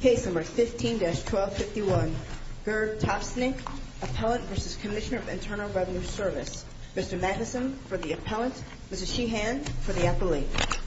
Case No. 15-1251, Gerd Topsnik, Appellant v. Cmsnr. of Internal Revenue Service Mr. Magnuson for the Appellant, Mrs. Sheehan for the Appellant Mrs. Sheehan for the Appellant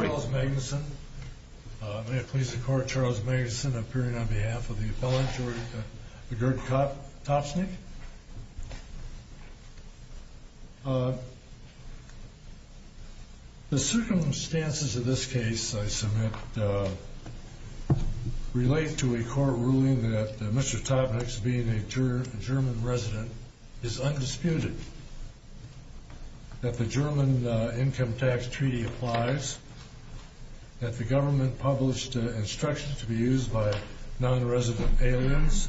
Charles Magnuson May it please the Court, Charles Magnuson appearing on behalf of the Appellant, Gerd Topsnik The circumstances of this case I submit relate to a court ruling that Mr. Topsnik, being a German resident, is undisputed That the German Income Tax Treaty applies That the government published instructions to be used by non-resident aliens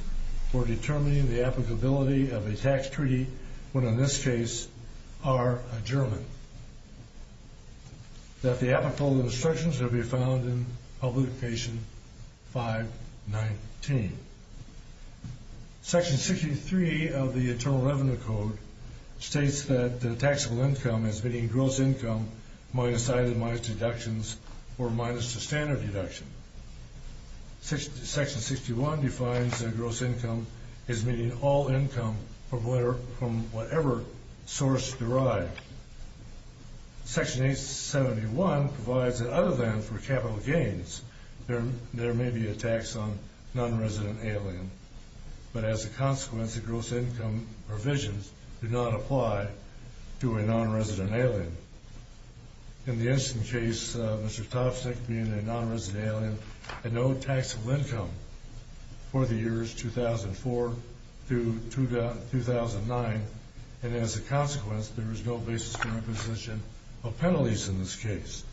for determining the applicability of a tax treaty, when in this case, are German That the applicable instructions will be found in Publication 519 Section 63 of the Internal Revenue Code states that taxable income is meaning gross income minus itemized deductions or minus the standard deduction Section 61 defines that gross income is meaning all income from whatever source derived Section 871 provides that other than for capital gains, there may be a tax on non-resident alien But as a consequence, the gross income provisions do not apply to a non-resident alien In the incident case, Mr. Topsnik, being a non-resident alien, had no taxable income for the years 2004-2009 And as a consequence, there is no basis for imposition of penalties in this case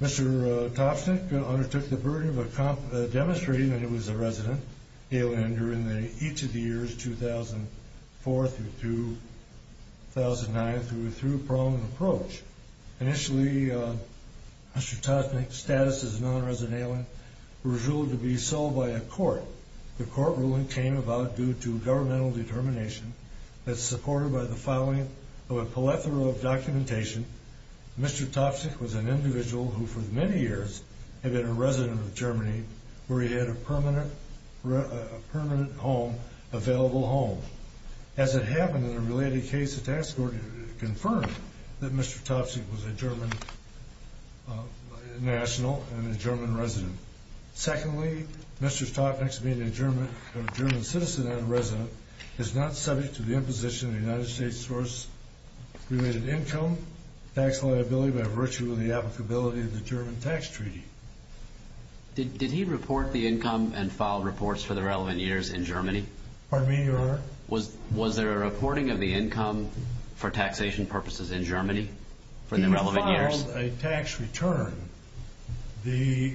Mr. Topsnik undertook the burden of demonstrating that he was a resident alien during each of the years 2004-2009 through a proven approach Initially, Mr. Topsnik's status as a non-resident alien was ruled to be sold by a court The court ruling came about due to governmental determination that supported by the filing of a plethora of documentation Mr. Topsnik was an individual who for many years had been a resident of Germany where he had a permanent home, available home As it happened in a related case, the task force confirmed that Mr. Topsnik was a German national and a German resident Secondly, Mr. Topsnik, being a German citizen and a resident, is not subject to the imposition of the United States source related income, tax liability by virtue of the applicability of the German tax treaty Did he report the income and file reports for the relevant years in Germany? Pardon me, Your Honor? Was there a reporting of the income for taxation purposes in Germany for the relevant years? When he filed a tax return, the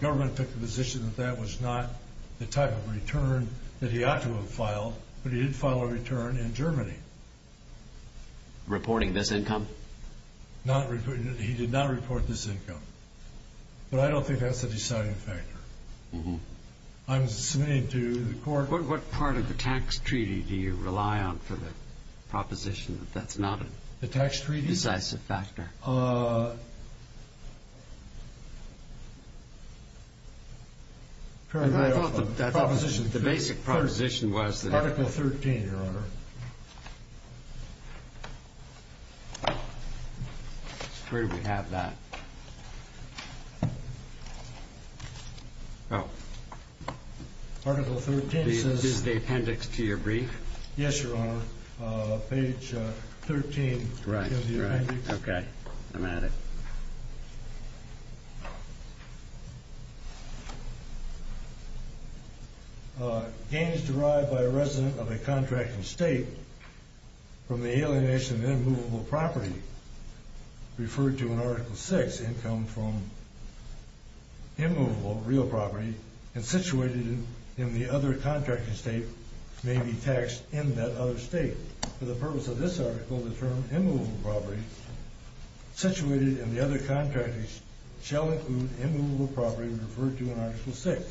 government took the position that that was not the type of return that he ought to have filed, but he did file a return in Germany Reporting this income? He did not report this income, but I don't think that's the deciding factor I'm submitting to the court What part of the tax treaty do you rely on for the proposition that that's not a decisive factor? The basic proposition was that Article 13, Your Honor Where do we have that? Article 13 says Is the appendix to your brief? Yes, Your Honor. Page 13 Okay, I'm at it Gain is derived by a resident of a contracting state from the alienation of immovable property Referred to in Article 6, income from immovable real property and situated in the other contracting state may be taxed in that other state For the purpose of this article, the term immovable property situated in the other contracting state shall include immovable property referred to in Article 6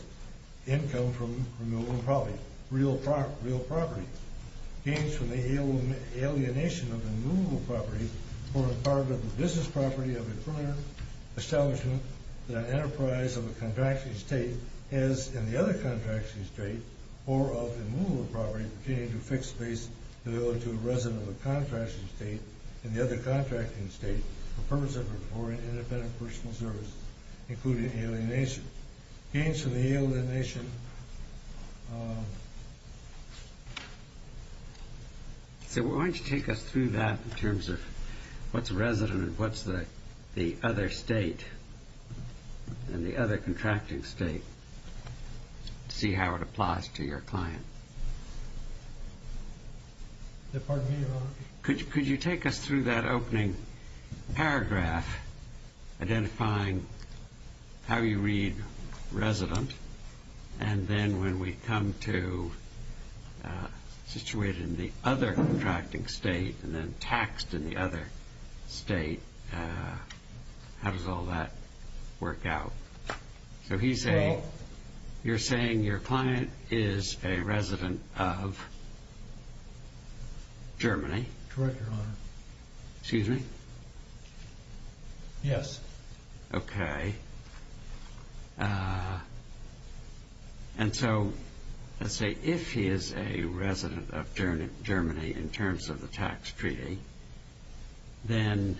Income from immovable property, real property Gains from the alienation of immovable property for a part of the business property of a firm or establishment that an enterprise of a contracting state has in the other contracting state Or of immovable property pertaining to fixed base available to a resident of a contracting state in the other contracting state For the purpose of reporting independent personal service, including alienation Gains from the alienation So why don't you take us through that in terms of what's resident and what's the other state And the other contracting state To see how it applies to your client Pardon me, Your Honor Could you take us through that opening paragraph identifying how you read resident And then when we come to situated in the other contracting state and then taxed in the other state How does all that work out? So you're saying your client is a resident of Germany Correct, Your Honor Excuse me? Yes Okay And so let's say if he is a resident of Germany in terms of the tax treaty Then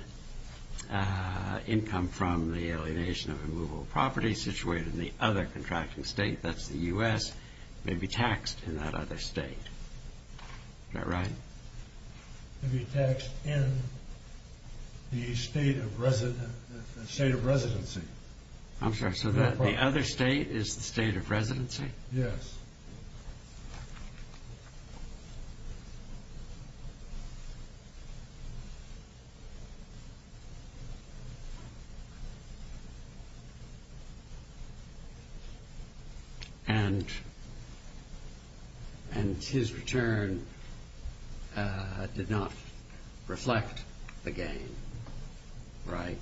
income from the alienation of immovable property situated in the other contracting state, that's the U.S. May be taxed in that other state Is that right? May be taxed in the state of residency I'm sorry, so the other state is the state of residency? Yes And his return did not reflect the gain, right?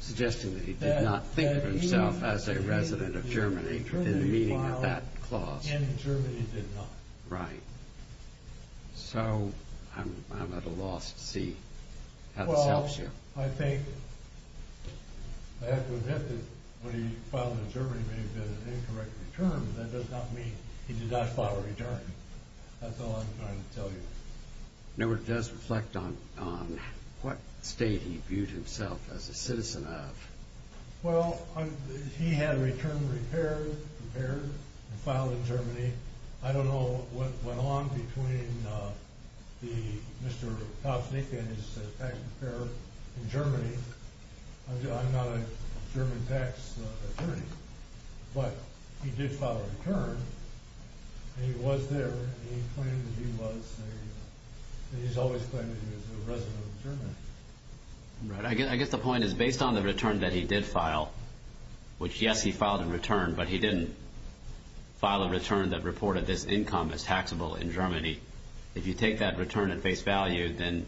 Suggesting that he did not think of himself as a resident of Germany within the meaning of that clause In Germany he did not Right So I'm at a loss to see how this helps you Well, I think, I have to admit that when he filed in Germany it may have been an incorrect return But that does not mean he did not file a return That's all I'm trying to tell you No, it does reflect on what state he viewed himself as a citizen of Well, he had a return prepared and filed in Germany I don't know what went on between Mr. Tosnik and his tax preparer in Germany I'm not a German tax attorney But he did file a return He was there, he claimed that he was He's always claimed that he was a resident of Germany Right, I guess the point is, based on the return that he did file Which yes, he filed a return, but he didn't File a return that reported this income as taxable in Germany If you take that return at face value then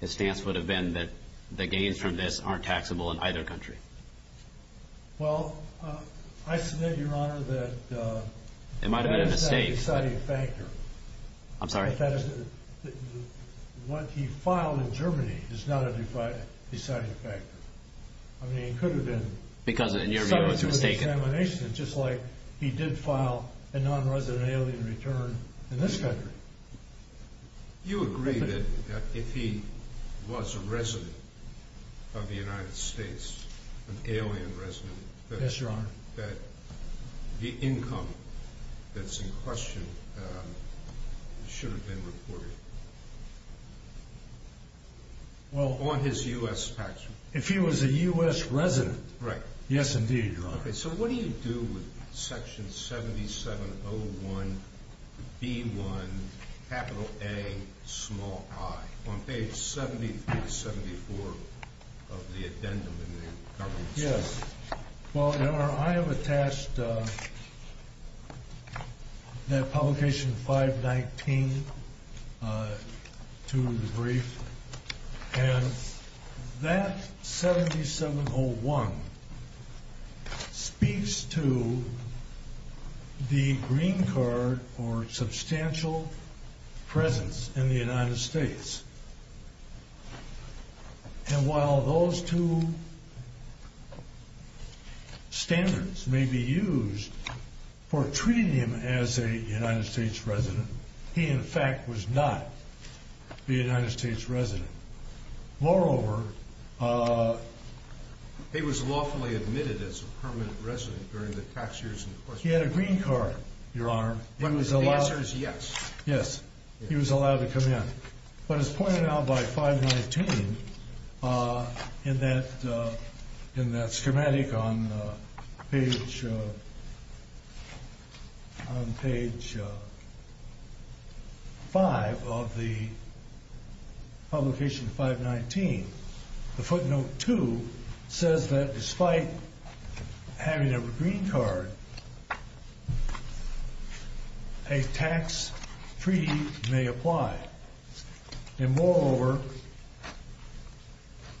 His stance would have been that the gains from this aren't taxable in either country Well, I submit, your honor, that It might have been a mistake That is a deciding factor I'm sorry What he filed in Germany is not a deciding factor I mean, it could have been Because in your view it was a mistake It's just like he did file a non-resident alien return in this country You agree that if he was a resident of the United States An alien resident Yes, your honor That the income that's in question should have been reported On his U.S. tax return If he was a U.S. resident Right Yes, indeed, your honor Okay, so what do you do with section 7701B1Ai On page 73-74 of the addendum in the government statement Well, your honor, I have attached That publication 519 to the brief And that 7701 Speaks to the green card or substantial presence in the United States And while those two standards may be used For treating him as a United States resident He, in fact, was not the United States resident Moreover He was lawfully admitted as a permanent resident during the tax years in question He had a green card, your honor The answer is yes Yes, he was allowed to come in But as pointed out by 519 In that schematic on page On page 5 of the Publication 519 The footnote 2 Says that despite having a green card A tax free may apply And moreover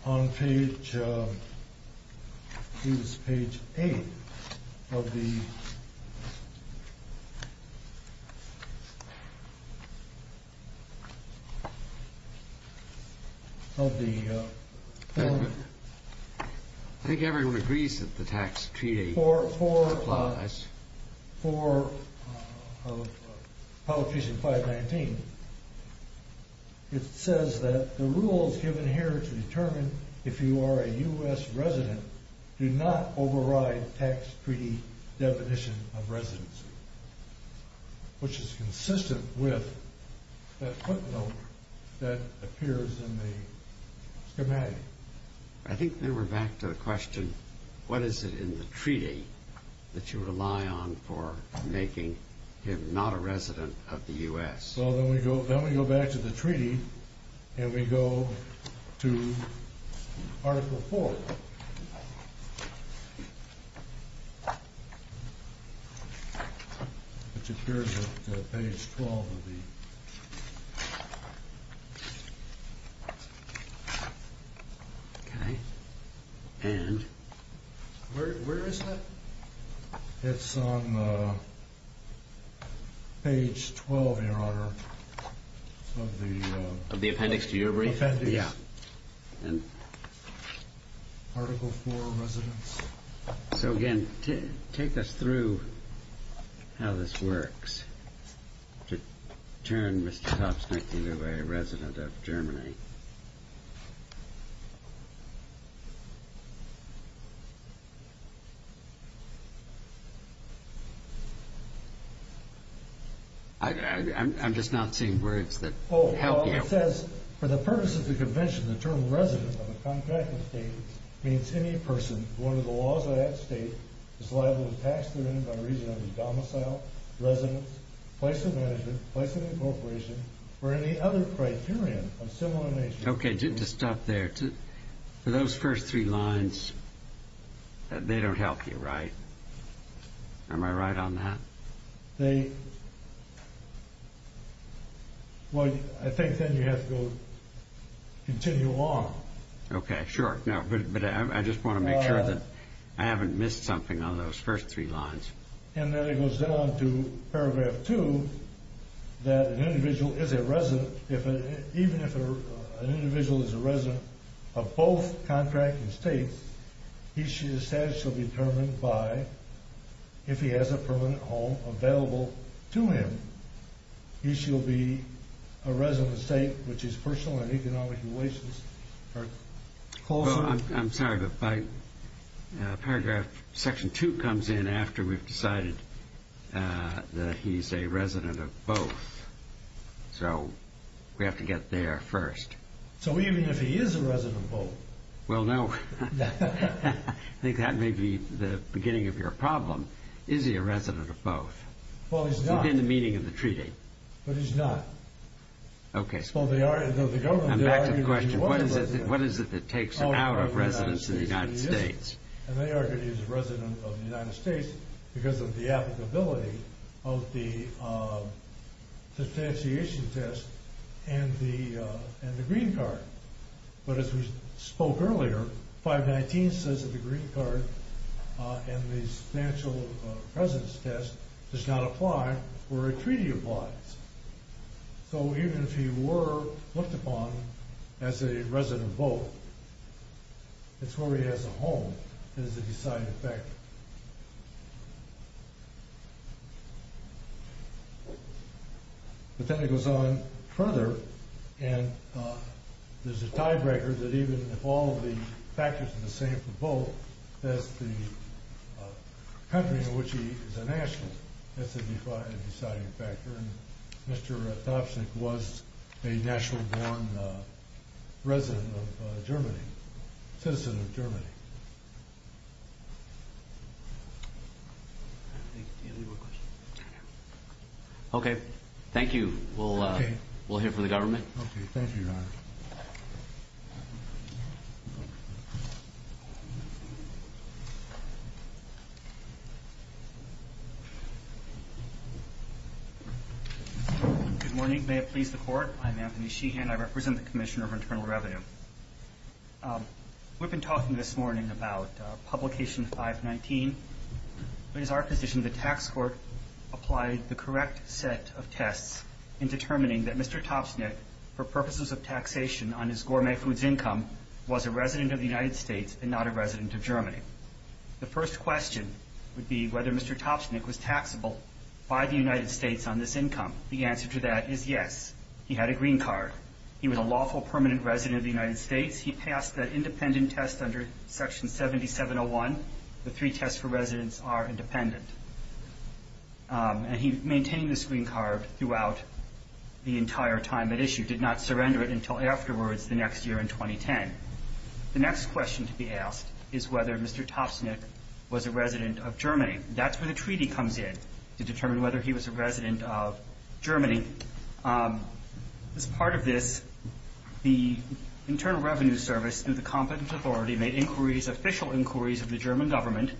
On page It was page 8 Of the Of the I think everyone agrees that the tax treaty Applies For Publication 519 It says that the rules given here to determine If you are a U.S. resident Do not override tax treaty definition of residency Which is consistent with That footnote That appears in the schematic I think then we're back to the question What is it in the treaty That you rely on for making him not a resident of the U.S.? Well then we go back to the treaty And we go to article 4 Which appears at page 12 of the Okay And Where is that? It's on page 12, your honor Of the Of the appendix to your brief Yeah And Article 4 residents So again, take us through How this works To turn Mr. Topsnitke to a resident of Germany I'm just not seeing words that help you It says For the purpose of the convention The term resident of a contracted state Means any person Who under the laws of that state Is liable to tax their income regionally Domicile, residence, place of management Place of incorporation Or any other criterion of similar nature Okay, just stop there Those first three lines They don't help you, right? Am I right on that? They Well, I think then you have to go Continue on Okay, sure But I just want to make sure that I haven't missed something on those first three lines And then it goes on to paragraph 2 That an individual is a resident Even if an individual is a resident Of both contracted states Each status shall be determined by If he has a permanent home available to him He shall be a resident of the state Which is personal and economic relations Well, I'm sorry But paragraph section 2 comes in After we've decided That he's a resident of both So we have to get there first So even if he is a resident of both Well, no I think that may be the beginning of your problem Is he a resident of both? Within the meaning of the treaty But he's not Okay I'm back to the question What is it that takes him out of residence in the United States? And they argue he's a resident of the United States Because of the applicability Of the Substantiation test And the green card But as we spoke earlier 519 says that the green card And the substantial residence test Does not apply where a treaty applies So even if he were looked upon As a resident of both It's where he has a home That is the deciding factor The technique goes on further And there's a tiebreaker That even if all of the factors are the same for both That's the country in which he is a national That's the deciding factor And Mr. Thapsin was a national born Resident of Germany Citizen of Germany Okay, thank you We'll hear from the government Okay, thank you, Your Honor Good morning, may it please the court I'm Anthony Sheehan, I represent the Commissioner of Internal Revenue We've been talking this morning about Publication 519 It is our position the tax court Applied the correct set of tests In determining that Mr. Thapsin For purposes of taxation on his gourmet foods income Was a resident of the United States And not a resident of Germany The first question would be Whether Mr. Thapsin was taxable By the United States on this income The answer to that is yes He had a green card He was a lawful permanent resident of the United States He passed that independent test under section 7701 The three tests for residents are independent And he maintained this green card throughout The entire time at issue Did not surrender it until afterwards The next year in 2010 The next question to be asked Is whether Mr. Thapsin Was a resident of Germany That's where the treaty comes in To determine whether he was a resident of Germany As part of this The Internal Revenue Service Through the competent authority Made inquiries, official inquiries Of the German government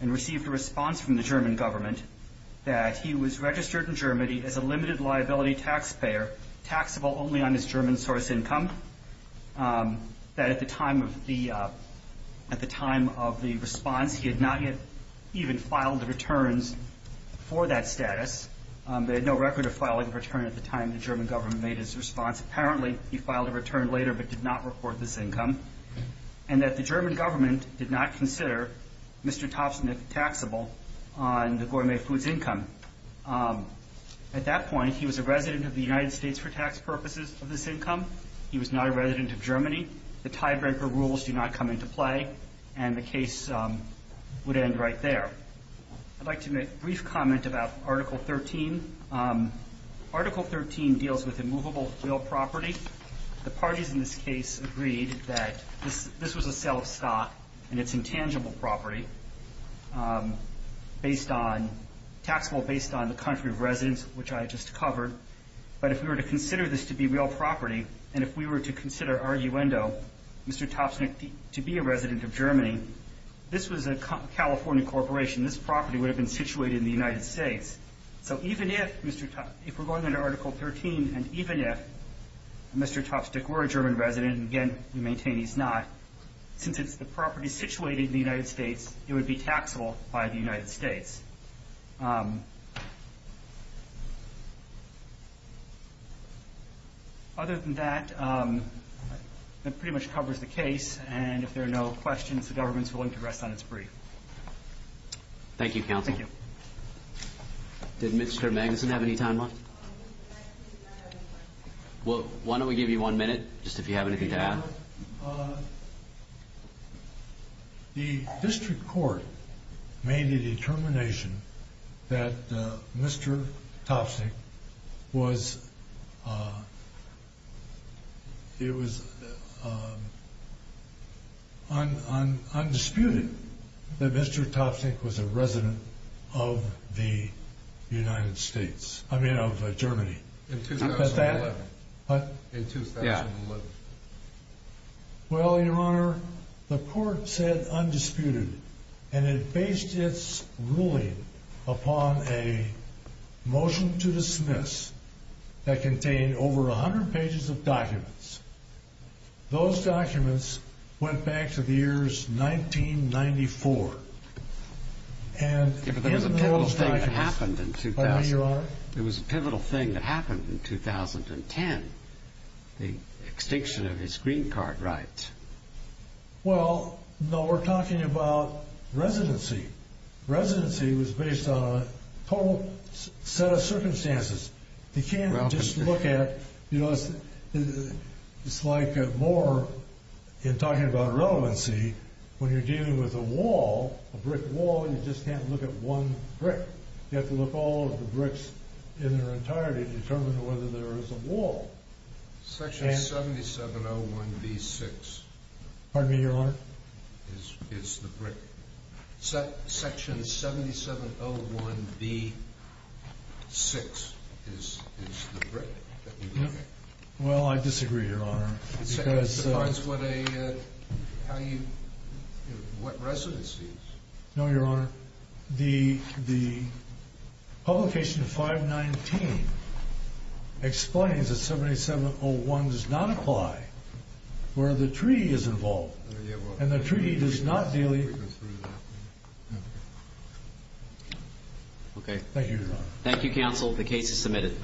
And received a response from the German government That he was registered in Germany As a limited liability taxpayer Taxable only on his German source income That at the time of the At the time of the response He had not yet even filed the returns For that status They had no record of filing a return At the time the German government made his response Apparently he filed a return later But did not report this income And that the German government Did not consider Mr. Thapsin taxable On the gourmet foods income At that point He was a resident of the United States For tax purposes of this income He was not a resident of Germany The tiebreaker rules do not come into play And the case would end right there I'd like to make a brief comment about Article 13 Article 13 deals with immovable real property The parties in this case agreed That this was a sale of stock And it's intangible property Based on Taxable based on the country of residence Which I just covered But if we were to consider this to be real property And if we were to consider arguendo Mr. Thapsin to be a resident of Germany This was a California corporation This property would have been situated in the United States So even if Mr. Thapsin If we're going into Article 13 And even if Mr. Thapsin were a German resident And again we maintain he's not Since it's the property situated in the United States It would be taxable by the United States Other than that That pretty much covers the case And if there are no questions The government is willing to rest on its brief Thank you counsel Thank you Did Mr. Magnuson have any time left? Well why don't we give you one minute Just if you have anything to add The district court Made a determination That Mr. Thapsin Was It was Undisputed That Mr. Thapsin was a resident Of the United States I mean of Germany In 2011 In 2011 Well your honor The court said undisputed And it based its ruling Upon a Motion to dismiss That contained over 100 pages of documents Those documents Went back to the years 1994 And It was a pivotal thing that happened in 20 Pardon me your honor It was a pivotal thing that happened in 2010 The extinction of his green card rights Well No we're talking about Residency Residency was based on A total Set of circumstances You can't just look at You know It's like more In talking about relevancy When you're dealing with a wall A brick wall You just can't look at one brick You have to look at all of the bricks In their entirety To determine whether there is a wall Section 7701B6 Pardon me your honor Is the brick Section 7701B6 Is the brick That you're looking at Well I disagree your honor Because Depends what a How you What residency No your honor The Publication of 519 Explains that 7701 does not apply Where the treaty is involved And the treaty does not deal Thank you counsel the case is submitted